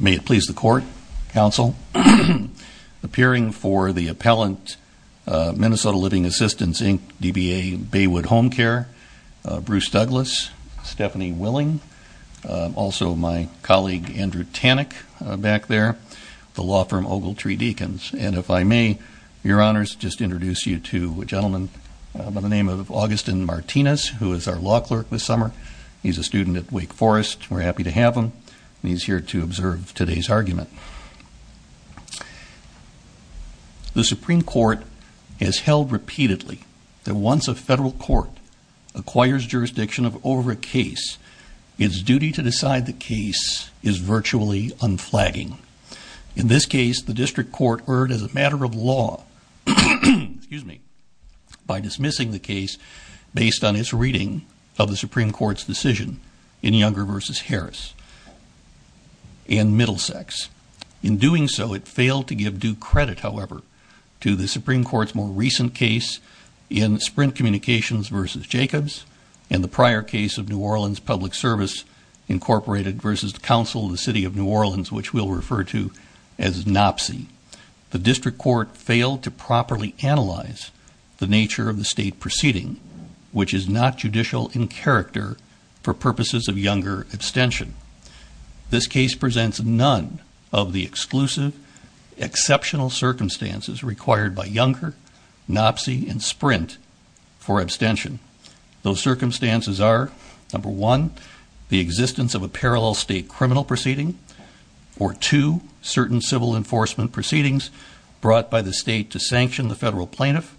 May it please the Court, Counsel. Appearing for the appellant, Minnesota Living Assistance, Inc., DBA, Baywood Home Care, Bruce Douglas, Stephanie Willing, also my colleague Andrew Tannick back there, the law firm Ogletree Deacons. And if I may, Your Honors, just introduce you to a gentleman by the name of Augustin Martinez who is our law clerk this summer. He's a student at Wake Forest. We're happy to have him. And he's here to observe today's argument. The Supreme Court has held repeatedly that once a federal court acquires jurisdiction of over a case, its duty to decide the case is virtually unflagging. In this case, the district court erred as a matter of law by dismissing the case based on its reading of the Supreme Court's decision in Younger v. Harris and Middlesex. In doing so, it failed to give due credit, however, to the Supreme Court's more recent case in Sprint Communications v. Jacobs and the prior case of New Orleans Public Service Incorporated v. the Council of the City of New Orleans, which we'll refer to as NOPSI. The district court failed to properly analyze the nature of the state proceeding, which is not judicial in character for purposes of Younger abstention. This case presents none of the exclusive exceptional circumstances required by Younger, NOPSI, and Sprint for abstention. Those circumstances are, number one, the existence of a parallel state criminal proceeding, or two, certain civil enforcement proceedings brought by the state to sanction the federal plaintiff,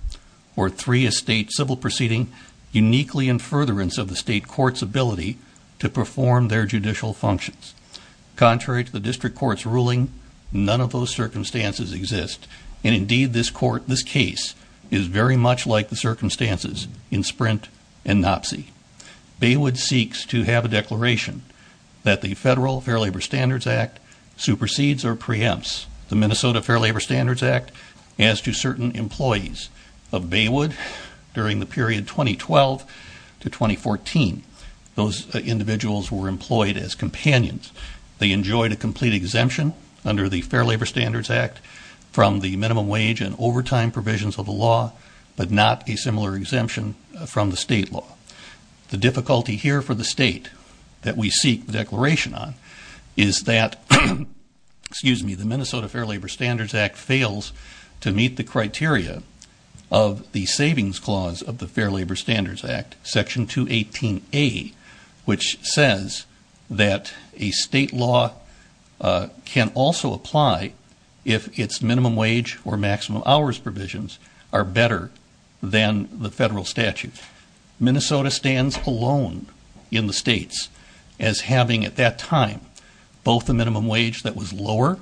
or three, a state civil proceeding uniquely in furtherance of the state court's ability to perform their judicial functions. Contrary to the district court's ruling, none of those circumstances exist, and indeed, this case is very much like the circumstances in Sprint and NOPSI. Baywood seeks to have a declaration that the Federal Fair Labor Standards Act supersedes or preempts the Minnesota Fair Labor Standards Act as to certain employees of Baywood during the period 2012 to 2014. Those individuals were employed as companions. They enjoyed a complete exemption under the Fair Labor Standards Act from the minimum The difficulty here for the state that we seek declaration on is that the Minnesota Fair Labor Standards Act fails to meet the criteria of the savings clause of the Fair Labor Standards Act, section 218A, which says that a state law can also apply if its minimum wage or maximum hours provisions are better than the federal statute. Minnesota stands alone in the states as having at that time both a minimum wage that was lower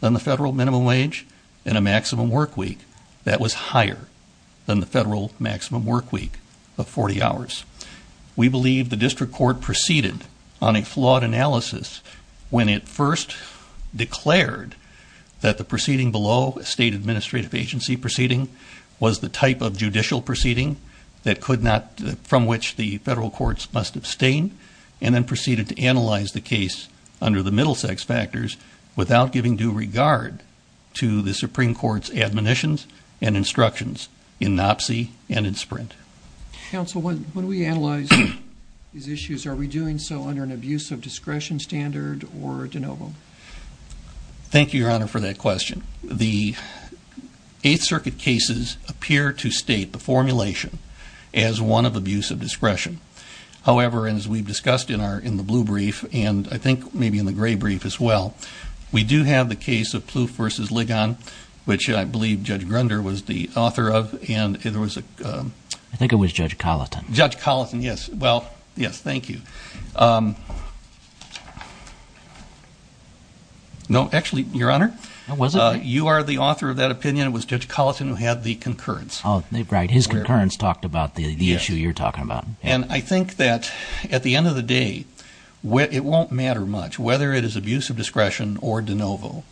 than the federal minimum wage and a maximum work week that was higher than the federal maximum work week of 40 hours. We believe the district court proceeded on a flawed analysis when it first declared that the proceeding below, a state administrative agency proceeding, was the type of judicial proceeding that could not, from which the federal courts must abstain, and then proceeded to analyze the case under the Middlesex factors without giving due regard to the Supreme Court's admonitions and instructions in NOPC and in SPRINT. Counsel, when we analyze these issues, are we doing so under an abuse of discretion standard or de novo? Thank you, Your Honor, for that question. The Eighth Circuit cases appear to state the formulation as one of abuse of discretion. However, and as we've discussed in our, in the blue brief, and I think maybe in the gray brief as well, we do have the case of Plouffe v. Ligon, which I believe Judge Grunder was the author of, and there was a ‑‑ I think it was Judge Colliton. Judge Colliton, yes. Well, yes. Thank you. No. Actually, Your Honor. Was it? You are the author of that opinion. It was Judge Colliton who had the concurrence. Oh, right. His concurrence talked about the issue you're talking about. And I think that at the end of the day, it won't matter much whether it is abuse of discretion or de novo.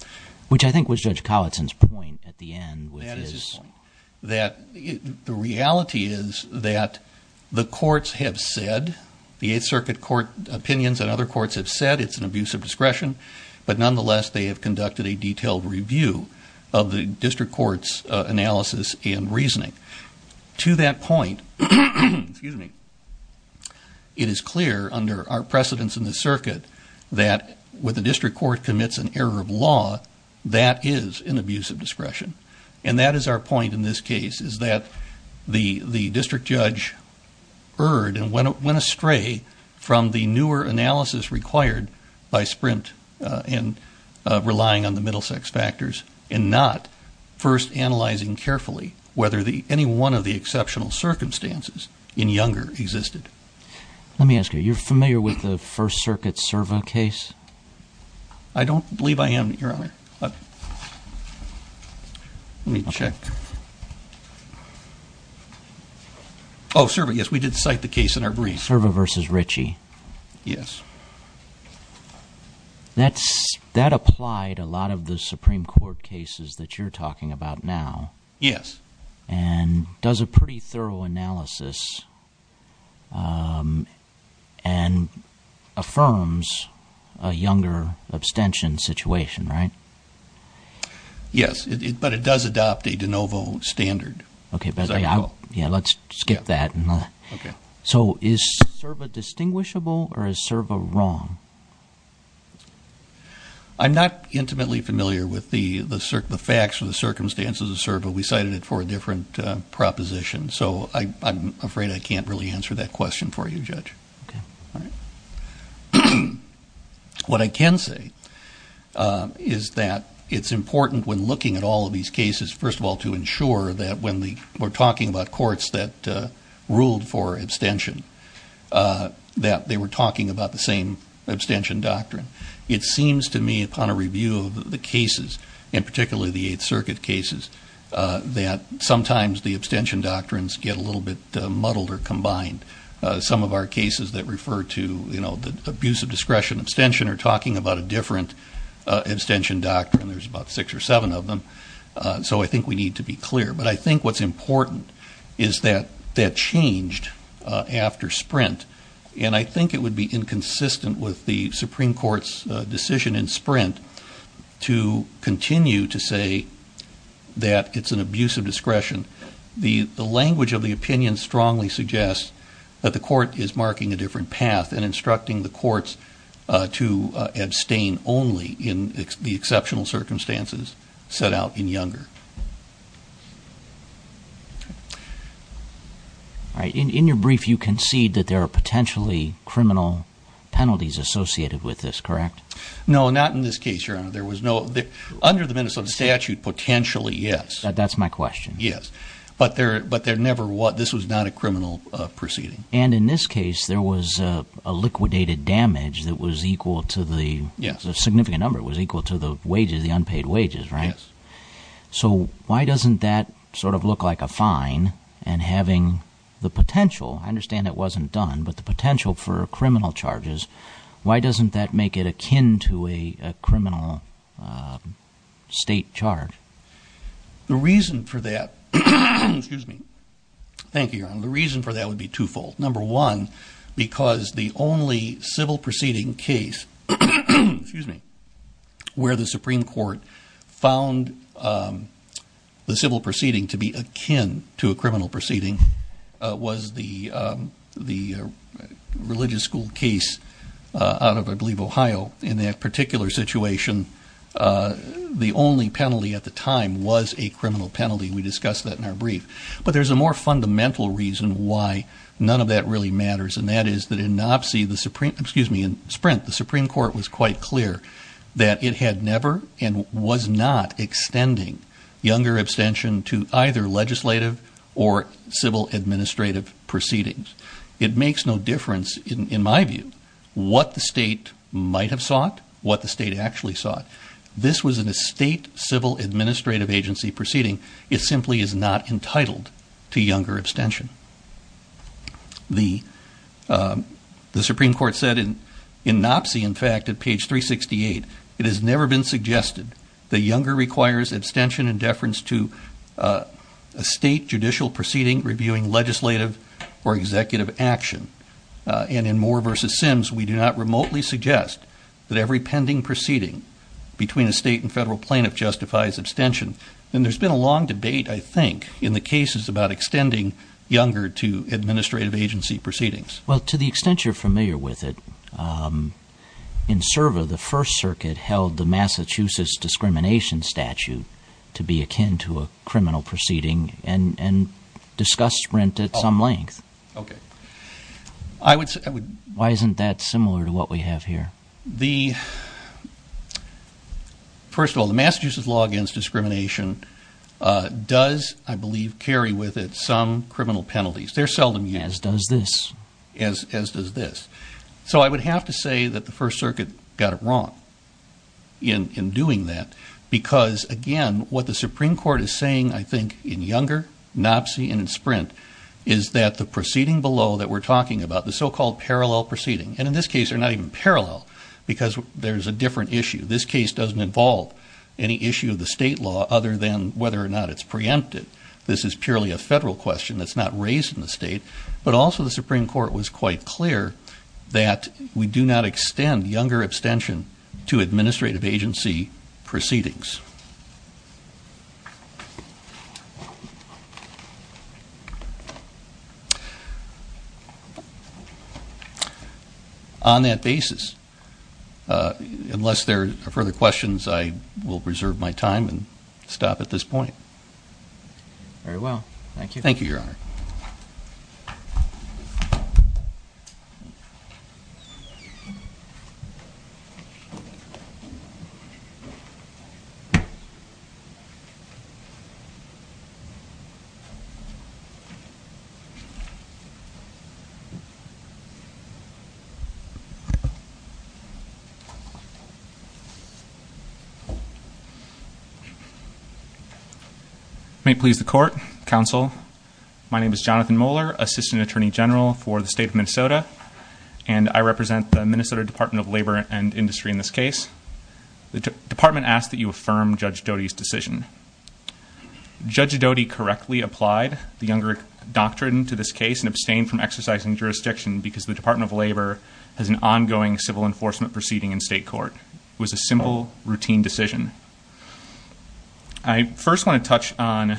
Which I think was Judge Colliton's point at the end, which is that the reality is that the courts have said, the Eighth Circuit court opinions and other courts have said it's an a detailed review of the district court's analysis and reasoning. To that point, it is clear under our precedence in the circuit that when the district court commits an error of law, that is an abuse of discretion. And that is our point in this case, is that the district judge erred and went astray from the newer analysis required by Sprint in relying on the Middlesex factors and not first analyzing carefully whether any one of the exceptional circumstances in Younger existed. Let me ask you. You're familiar with the First Circuit Serva case? I don't believe I am, Your Honor. Let me check. Oh, Serva, yes. We did cite the case in our brief. Serva v. Ritchie. Yes. That applied to a lot of the Supreme Court cases that you're talking about now. Yes. And does a pretty thorough analysis and affirms a Younger abstention situation, right? Yes, but it does adopt a de novo standard. Okay, let's skip that. So is Serva distinguishable or is Serva wrong? I'm not intimately familiar with the facts or the circumstances of Serva. We cited it for a different proposition, so I'm afraid I can't really answer that question for you, Judge. What I can say is that it's important when looking at all of these cases, first of all, to ensure that when we're talking about courts that ruled for abstention, that they were talking about the same abstention doctrine. It seems to me upon a review of the cases, and particularly the Eighth Circuit cases, that sometimes the abstention doctrines get a little bit muddled or combined. Some of our cases that refer to the abuse of discretion abstention are talking about a different abstention doctrine. There's about six or seven of them. So I think we need to be clear. But I think what's important is that that changed after Sprint. And I think it would be inconsistent with the Supreme Court's decision in Sprint to continue to say that it's an abuse of discretion. The language of the opinion strongly suggests that the court is marking a different path and instructing the courts to abstain only in the exceptional circumstances set out in Younger. In your brief, you concede that there are potentially criminal penalties associated with this, correct? No, not in this case, Your Honor. Under the Minnesota statute, potentially, yes. That's my question. Yes. But there never was. This was not a criminal proceeding. And in this case, there was a liquidated damage that was equal to the- Yes. A significant number. It was equal to the wages, the unpaid wages, right? Yes. So why doesn't that sort of look like a fine and having the potential, I understand it wasn't done, but the potential for criminal charges. Why doesn't that make it akin to a criminal state charge? The reason for that, excuse me. Thank you, Your Honor. The reason for that would be twofold. Number one, because the only civil proceeding case, excuse me, where the Supreme Court found the civil proceeding to be akin to a criminal proceeding was the religious school case out of, I believe, Ohio. In that particular situation, the only penalty at the time was a criminal penalty. We discussed that in our brief. But there's a more fundamental reason why none of that really matters. And that is that in NOPC, the Supreme, excuse me, in Sprint, the Supreme Court was quite clear that it had never and was not extending younger abstention to either legislative or civil administrative proceedings. It makes no difference, in my view, what the state might have sought, what the state actually sought. This was an estate civil administrative agency proceeding. It simply is not entitled to younger abstention. The Supreme Court said in NOPC, in fact, at page 368, it has never been suggested that younger requires abstention and deference to a state judicial proceeding reviewing legislative or executive action. And in Moore v. Sims, we do not remotely suggest that every pending proceeding between a state and federal plaintiff justifies abstention. And there's been a long debate, I think, in the cases about extending younger to administrative agency proceedings. Well, to the extent you're familiar with it, in Serva, the First Circuit held the Massachusetts Discrimination Statute to be akin to a criminal proceeding. And discussed Sprint at some length. Okay, I would- Why isn't that similar to what we have here? The, first of all, the Massachusetts Law Against Discrimination does, I believe, carry with it some criminal penalties. They're seldom used. As does this. As does this. So I would have to say that the First Circuit got it wrong in doing that. Because, again, what the Supreme Court is saying, I think, in younger, NOPC, and in Sprint, is that the proceeding below that we're talking about, the so-called parallel proceeding. And in this case, they're not even parallel, because there's a different issue. This case doesn't involve any issue of the state law, other than whether or not it's preempted. This is purely a federal question that's not raised in the state. But also, the Supreme Court was quite clear that we do not extend younger abstention to administrative agency proceedings. On that basis, unless there are further questions, I will preserve my time and stop at this point. Very well, thank you. Thank you, Your Honor. May it please the court, counsel. My name is Jonathan Moeller, Assistant Attorney General for the state of Minnesota. And I represent the Minnesota Department of Labor and Industry in this case. The department asks that you affirm Judge Doty's decision. Judge Doty correctly applied the younger doctrine to this case and exercising jurisdiction because the Department of Labor has an ongoing civil enforcement proceeding in state court. It was a simple, routine decision. I first want to touch on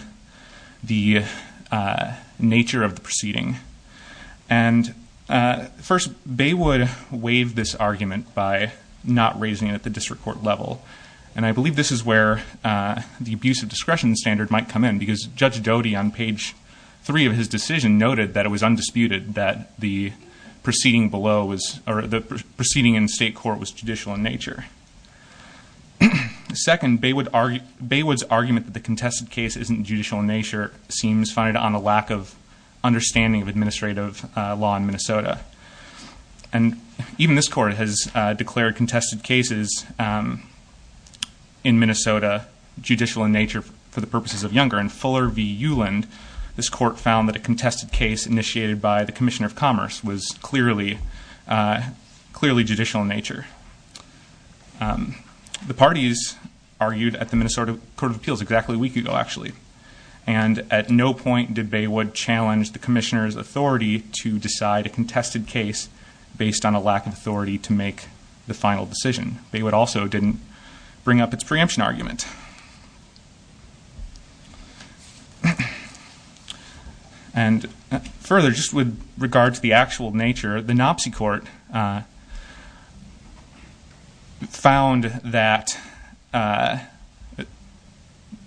the nature of the proceeding. And first, Baywood waived this argument by not raising it at the district court level. And I believe this is where the abuse of discretion standard might come in, because Judge Doty on page three of his decision noted that it was undisputed that the proceeding in state court was judicial in nature. Second, Baywood's argument that the contested case isn't judicial in nature seems founded on a lack of understanding of administrative law in Minnesota. And even this court has declared contested cases in Minnesota judicial in nature for the purposes of younger. In Fuller v. Uland, this court found that a contested case initiated by the Commissioner of Commerce was clearly judicial in nature. The parties argued at the Minnesota Court of Appeals exactly a week ago, actually. And at no point did Baywood challenge the commissioner's authority to decide a contested case based on a lack of authority to make the final decision. Baywood also didn't bring up its preemption argument. And further, just with regard to the actual nature, the Nopsey Court found that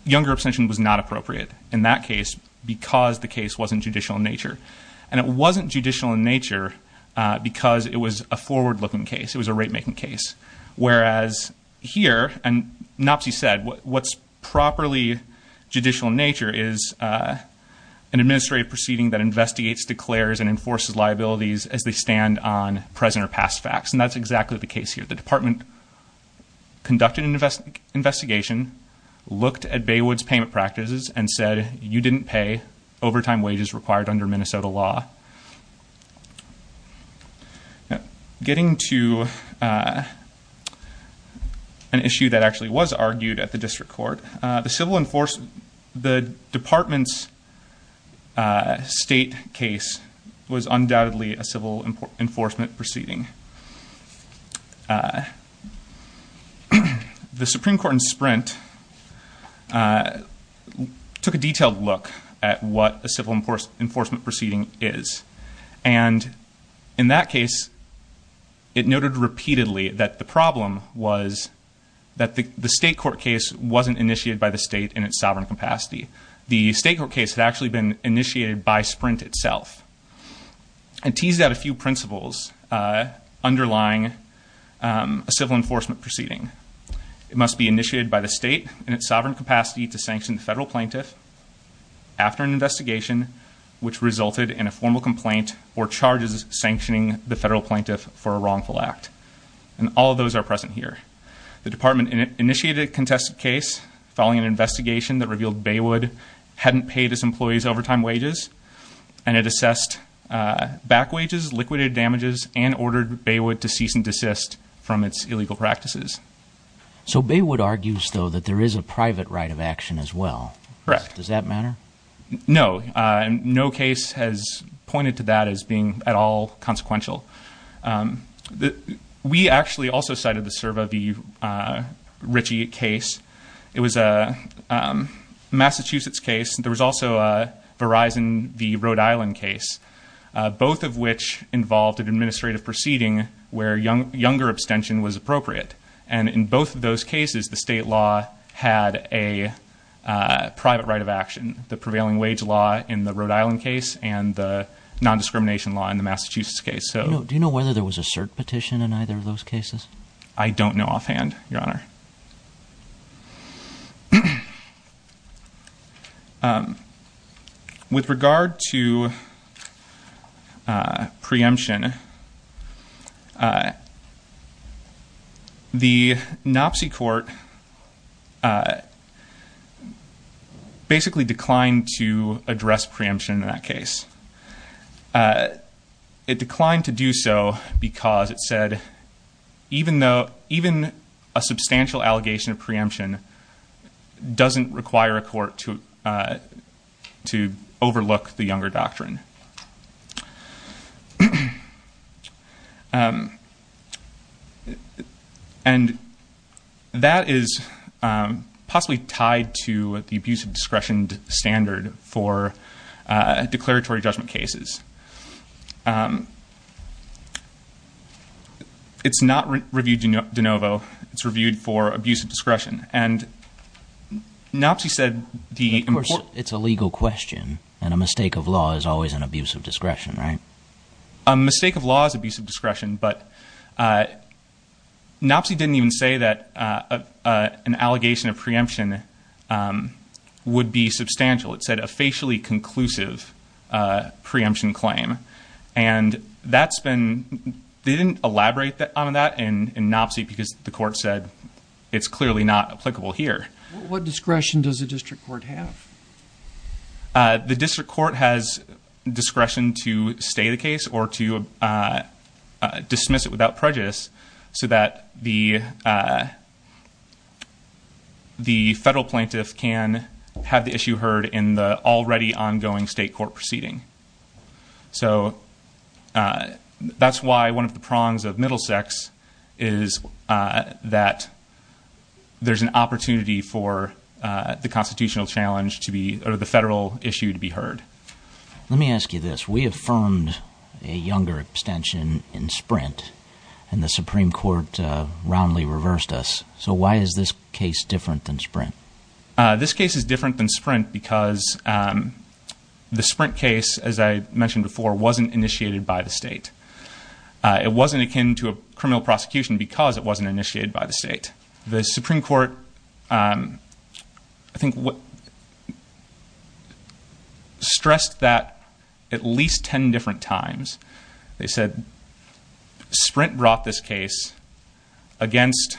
younger abstention was not appropriate in that case because the case wasn't judicial in nature. And it wasn't judicial in nature because it was a forward looking case. It was a rate making case. Whereas here, and Nopsey said, what's properly judicial in nature is an administrative proceeding that investigates, declares, and enforces liabilities as they stand on present or past facts. And that's exactly the case here. The department conducted an investigation, looked at Baywood's payment practices, and said, you didn't pay overtime wages required under Minnesota law. Getting to an issue that actually was argued at the district court, the department's state case was undoubtedly a civil enforcement proceeding. The Supreme Court in Sprint took a detailed look at what a civil enforcement proceeding is. And in that case, it noted repeatedly that the problem was that the state court case wasn't initiated by the state in its sovereign capacity. The state court case had actually been initiated by Sprint itself. And teased out a few principles underlying a civil enforcement proceeding. It must be initiated by the state in its sovereign capacity to sanction the federal plaintiff after an investigation, which resulted in a formal complaint or charges sanctioning the federal plaintiff for a wrongful act. And all of those are present here. The department initiated a contested case following an investigation that revealed Baywood hadn't paid his employees overtime wages. And it assessed back wages, liquidated damages, and ordered Baywood to cease and desist from its illegal practices. So Baywood argues, though, that there is a private right of action as well. Correct. Does that matter? No, and no case has pointed to that as being at all consequential. We actually also cited the serve of the Ritchie case. It was a Massachusetts case. There was also a Verizon v. Rhode Island case. Both of which involved an administrative proceeding where younger abstention was appropriate. And in both of those cases, the state law had a private right of action. The prevailing wage law in the Rhode Island case and the non-discrimination law in the Massachusetts case. So- Do you know whether there was a cert petition in either of those cases? I don't know offhand, your honor. With regard to preemption, the NOPC court basically declined to address preemption in that case. It declined to do so because it said, even a substantial to overlook the younger doctrine. And that is possibly tied to the abuse of discretion standard for declaratory judgment cases. It's not reviewed de novo. It's reviewed for abuse of discretion. And NOPC said the- It's a legal question, and a mistake of law is always an abuse of discretion, right? A mistake of law is abuse of discretion, but NOPC didn't even say that an allegation of preemption would be substantial. It said a facially conclusive preemption claim. And that's been, they didn't elaborate on that in NOPC because the court said it's clearly not applicable here. What discretion does the district court have? The district court has discretion to stay the case or to dismiss it without prejudice. So that the federal plaintiff can have the issue heard in the already ongoing state court proceeding. So that's why one of the prongs of Middlesex is that there's an opportunity for the constitutional challenge to be, or the federal issue to be heard. Let me ask you this. We affirmed a younger abstention in Sprint, and the Supreme Court roundly reversed us. So why is this case different than Sprint? This case is different than Sprint because the Sprint case, as I mentioned before, wasn't initiated by the state. It wasn't akin to a criminal prosecution because it wasn't initiated by the state. The Supreme Court, I think, stressed that at least ten different times. They said Sprint brought this case against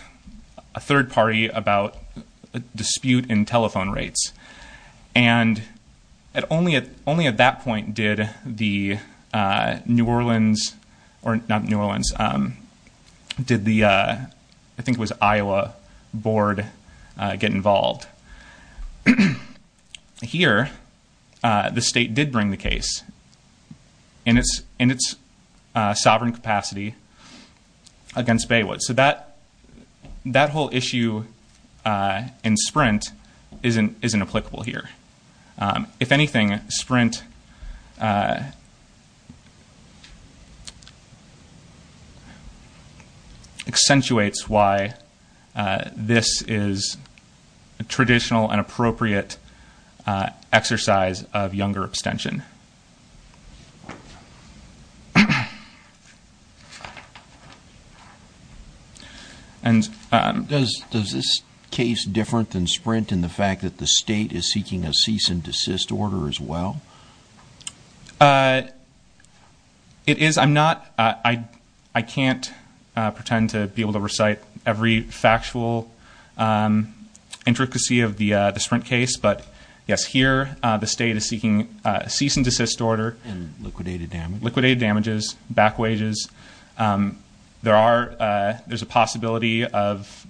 a third party about a dispute in telephone rates. And only at that point did the New Orleans, or not New Orleans, did the, I think it was Iowa, board get involved. Here, the state did bring the case in its sovereign capacity against Baywood. So that whole issue in Sprint isn't applicable here. If anything, Sprint accentuates why this is a traditional and appropriate exercise of younger abstention. And does this case different than Sprint in the fact that the state is seeking a cease and desist order as well? It is, I'm not, I can't pretend to be able to recite every factual intricacy of the Sprint case, but yes, here the state is seeking a cease and desist order. And liquidated damages. Liquidated damages, back wages. There's a possibility of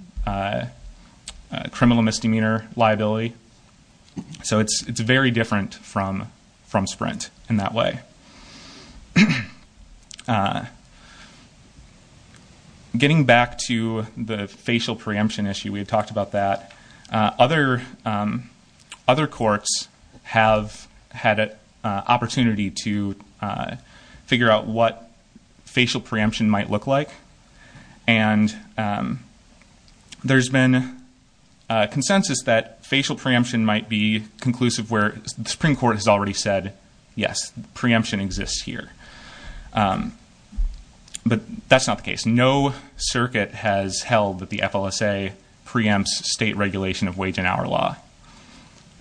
criminal misdemeanor liability. So it's very different from Sprint in that way. Getting back to the facial preemption issue, we've talked about that. Other courts have had an opportunity to figure out what facial preemption might look like. And there's been a consensus that facial preemption might be conclusive where the Supreme Court has already said, yes, preemption exists here. But that's not the case. No circuit has held that the FLSA preempts state regulation of wage and hour law.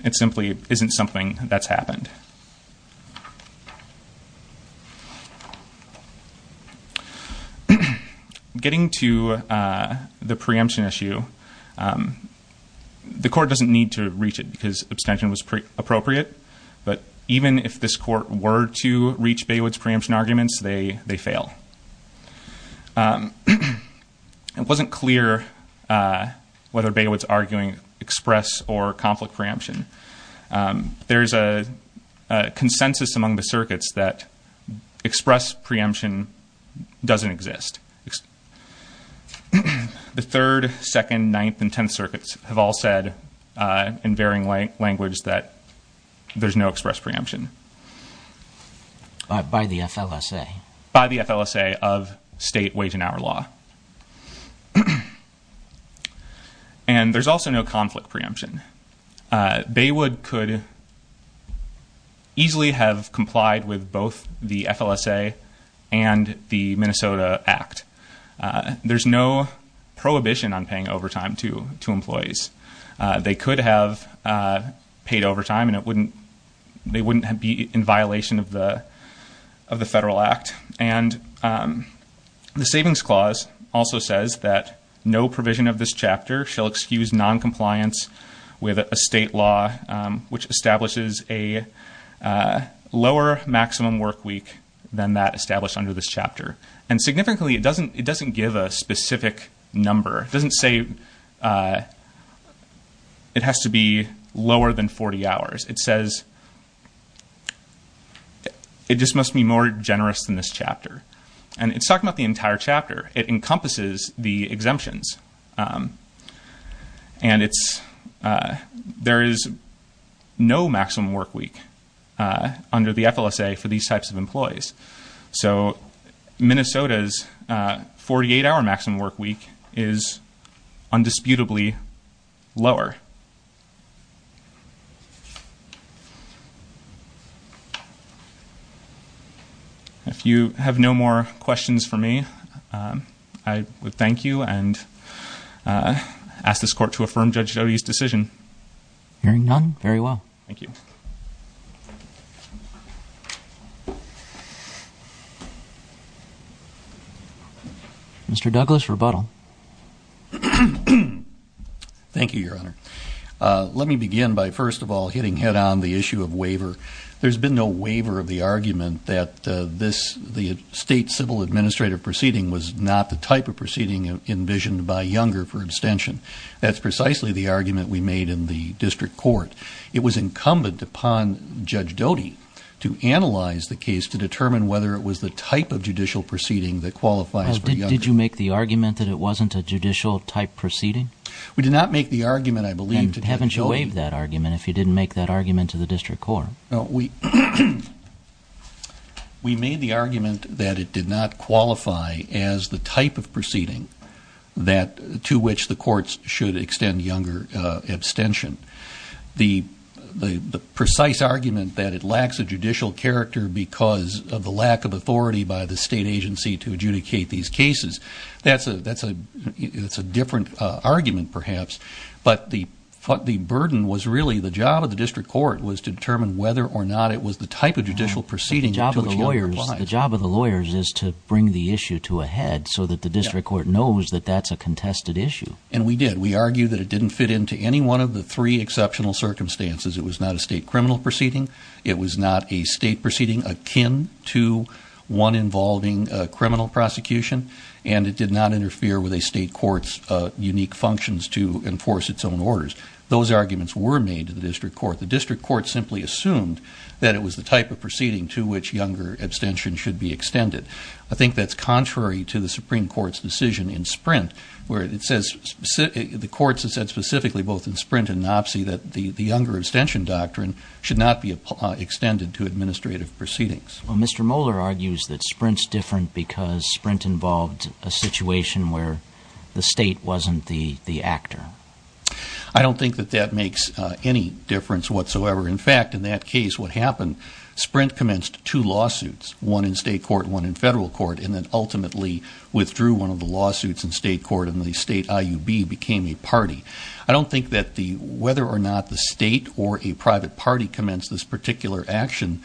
It simply isn't something that's happened. Getting to the preemption issue, the court doesn't need to reach it because abstention was appropriate. But even if this court were to reach Baywood's preemption arguments, they fail. It wasn't clear whether Baywood's arguing express or conflict preemption. There's a consensus among the circuits that express preemption doesn't exist. The third, second, ninth, and tenth circuits have all said, in varying language, that there's no express preemption. By the FLSA. By the FLSA of state wage and hour law. And there's also no conflict preemption. Baywood could easily have complied with both the FLSA and the Minnesota Act. There's no prohibition on paying overtime to employees. They could have paid overtime and they wouldn't be in violation of the federal act. And the savings clause also says that no provision of this chapter shall excuse non-compliance with a state law, which establishes a lower maximum work week than that established under this chapter. And significantly, it doesn't give a specific number. It doesn't say it has to be lower than 40 hours. It says it just must be more generous than this chapter. And it's talking about the entire chapter. It encompasses the exemptions. And it's, there is no maximum work week under the FLSA for these types of employees. So, Minnesota's 48 hour maximum work week is undisputably lower. If you have no more questions for me, I would thank you and ask this court to affirm Judge Dottie's decision. Hearing none, very well. Thank you. Mr. Douglas, rebuttal. Thank you, your honor. Let me begin by first of all hitting head on the issue of waiver. There's been no waiver of the argument that the state civil administrative proceeding was not the type of proceeding envisioned by Younger for extension. That's precisely the argument we made in the district court. It was incumbent upon Judge Dottie to analyze the case to determine whether it was the type of judicial proceeding that qualifies for Younger. Did you make the argument that it wasn't a judicial type proceeding? We did not make the argument, I believe, to Judge Dottie. And haven't you waived that argument if you didn't make that argument to the district court? No, we made the argument that it did not qualify as the type of proceeding to which the courts should extend Younger abstention. The precise argument that it lacks a judicial character because of the lack of authority by the state agency to adjudicate these cases, that's a different argument perhaps. But the burden was really the job of the district court was to determine whether or not it was the type of judicial proceeding to which Younger applies. The job of the lawyers is to bring the issue to a head so that the district court knows that that's a contested issue. And we did. We argued that it didn't fit into any one of the three exceptional circumstances. It was not a state criminal proceeding. It was not a state proceeding akin to one involving criminal prosecution. And it did not interfere with a state court's unique functions to enforce its own orders. Those arguments were made to the district court. The district court simply assumed that it was the type of proceeding to which Younger abstention should be extended. I think that's contrary to the Supreme Court's decision in Sprint where it says, the court has said specifically both in Sprint and Nopsy that the Younger abstention doctrine should not be extended to administrative proceedings. Well, Mr. Moeller argues that Sprint's different because Sprint involved a situation where the state wasn't the actor. I don't think that that makes any difference whatsoever. In fact, in that case, what happened, Sprint commenced two lawsuits, one in state court, one in federal court, and then ultimately withdrew one of the lawsuits in state court and the state IUB became a party. I don't think that whether or not the state or a private party commenced this particular action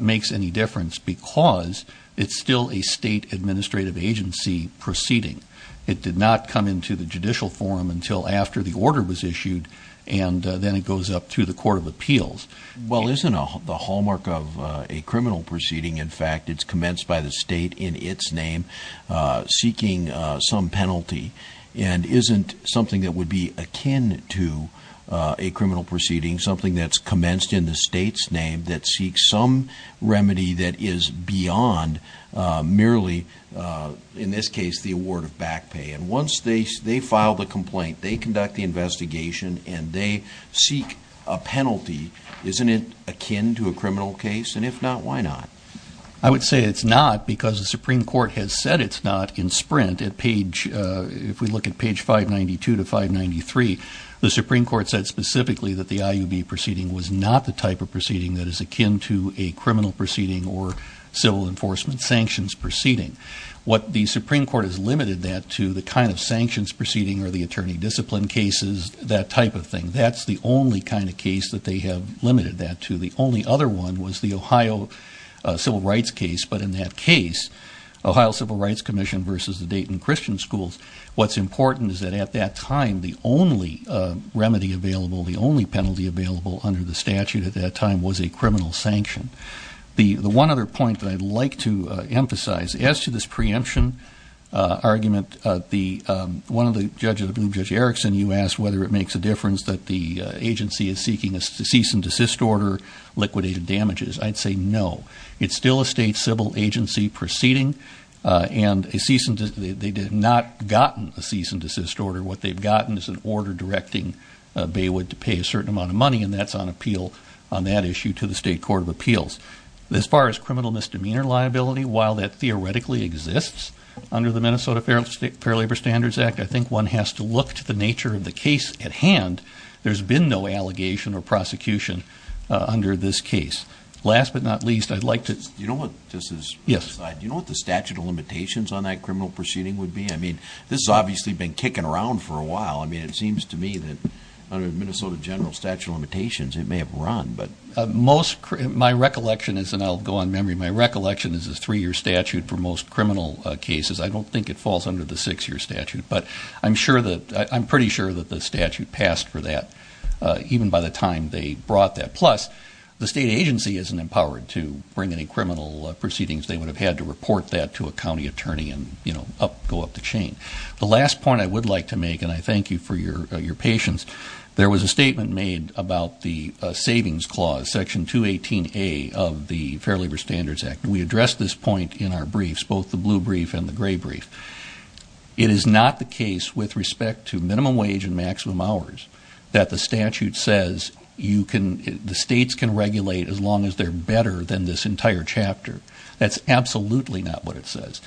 makes any difference because it's still a state administrative agency proceeding. It did not come into the judicial forum until after the order was issued, and then it goes up to the court of appeals. Well, isn't the hallmark of a criminal proceeding, in fact, it's commenced by the state in its name, seeking some penalty, and isn't something that would be akin to a criminal proceeding, something that's commenced in the state's name, that seeks some remedy that is beyond merely, in this case, the award of back pay? And once they file the complaint, they conduct the investigation, and they seek a penalty, isn't it akin to a criminal case? And if not, why not? I would say it's not because the Supreme Court has said it's not in Sprint at page, if we look at page 592 to 593, the Supreme Court said specifically that the IUB proceeding was not the type of proceeding that is akin to a criminal proceeding or civil enforcement sanctions proceeding. What the Supreme Court has limited that to, the kind of sanctions proceeding or the attorney discipline cases, that type of thing. That's the only kind of case that they have limited that to. The only other one was the Ohio Civil Rights case, but in that case, Ohio Civil Rights Commission versus the Dayton Christian Schools. What's important is that at that time, the only remedy available, the only penalty available under the statute at that time was a criminal sanction. The one other point that I'd like to emphasize, as to this preemption argument, one of the judges, I believe Judge Erickson, you asked whether it makes a difference that the agency is seeking a cease and desist order, liquidated damages. I'd say no. It's still a state civil agency proceeding, and they did not gotten a cease and desist order. What they've gotten is an order directing Baywood to pay a certain amount of money, and that's on appeal on that issue to the state court of appeals. As far as criminal misdemeanor liability, while that theoretically exists under the Minnesota Fair Labor Standards Act, I think one has to look to the nature of the case at hand. There's been no allegation or prosecution under this case. Last but not least, I'd like to- You know what this is- Yes. You know what the statute of limitations on that criminal proceeding would be? I mean, this has obviously been kicking around for a while. I mean, it seems to me that under Minnesota General Statute of Limitations, it may have run, but- Most, my recollection is, and I'll go on memory, my recollection is a three year statute for most criminal cases. I don't think it falls under the six year statute, but I'm pretty sure that the statute passed for that, even by the time they brought that. And plus, the state agency isn't empowered to bring any criminal proceedings. They would have had to report that to a county attorney and go up the chain. The last point I would like to make, and I thank you for your patience, there was a statement made about the savings clause, section 218A of the Fair Labor Standards Act. And we addressed this point in our briefs, both the blue brief and the gray brief. It is not the case with respect to minimum wage and maximum hours that the statute says, the states can regulate as long as they're better than this entire chapter. That's absolutely not what it says.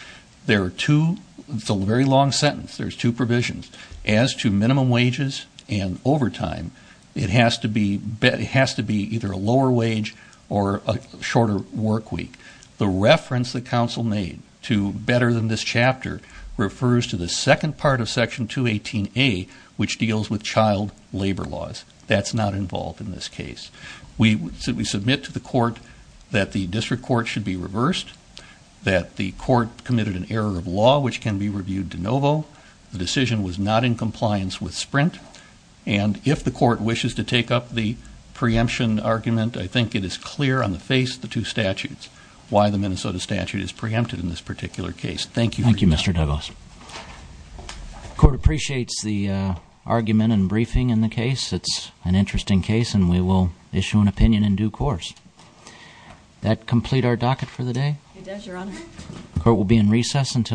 There are two, it's a very long sentence, there's two provisions. As to minimum wages and overtime, it has to be either a lower wage or a shorter work week. The reference the council made to better than this chapter refers to the second part of section 218A, which deals with child labor laws. That's not involved in this case. We submit to the court that the district court should be reversed, that the court committed an error of law which can be reviewed de novo. The decision was not in compliance with Sprint. And if the court wishes to take up the preemption argument, I think it is clear on the face of the two statutes, why the Minnesota statute is preempted in this particular case. Thank you for your time. Thank you, Mr. Douglas. Court appreciates the argument and briefing in the case. It's an interesting case and we will issue an opinion in due course. That complete our docket for the day? It does, your honor. Court will be in recess until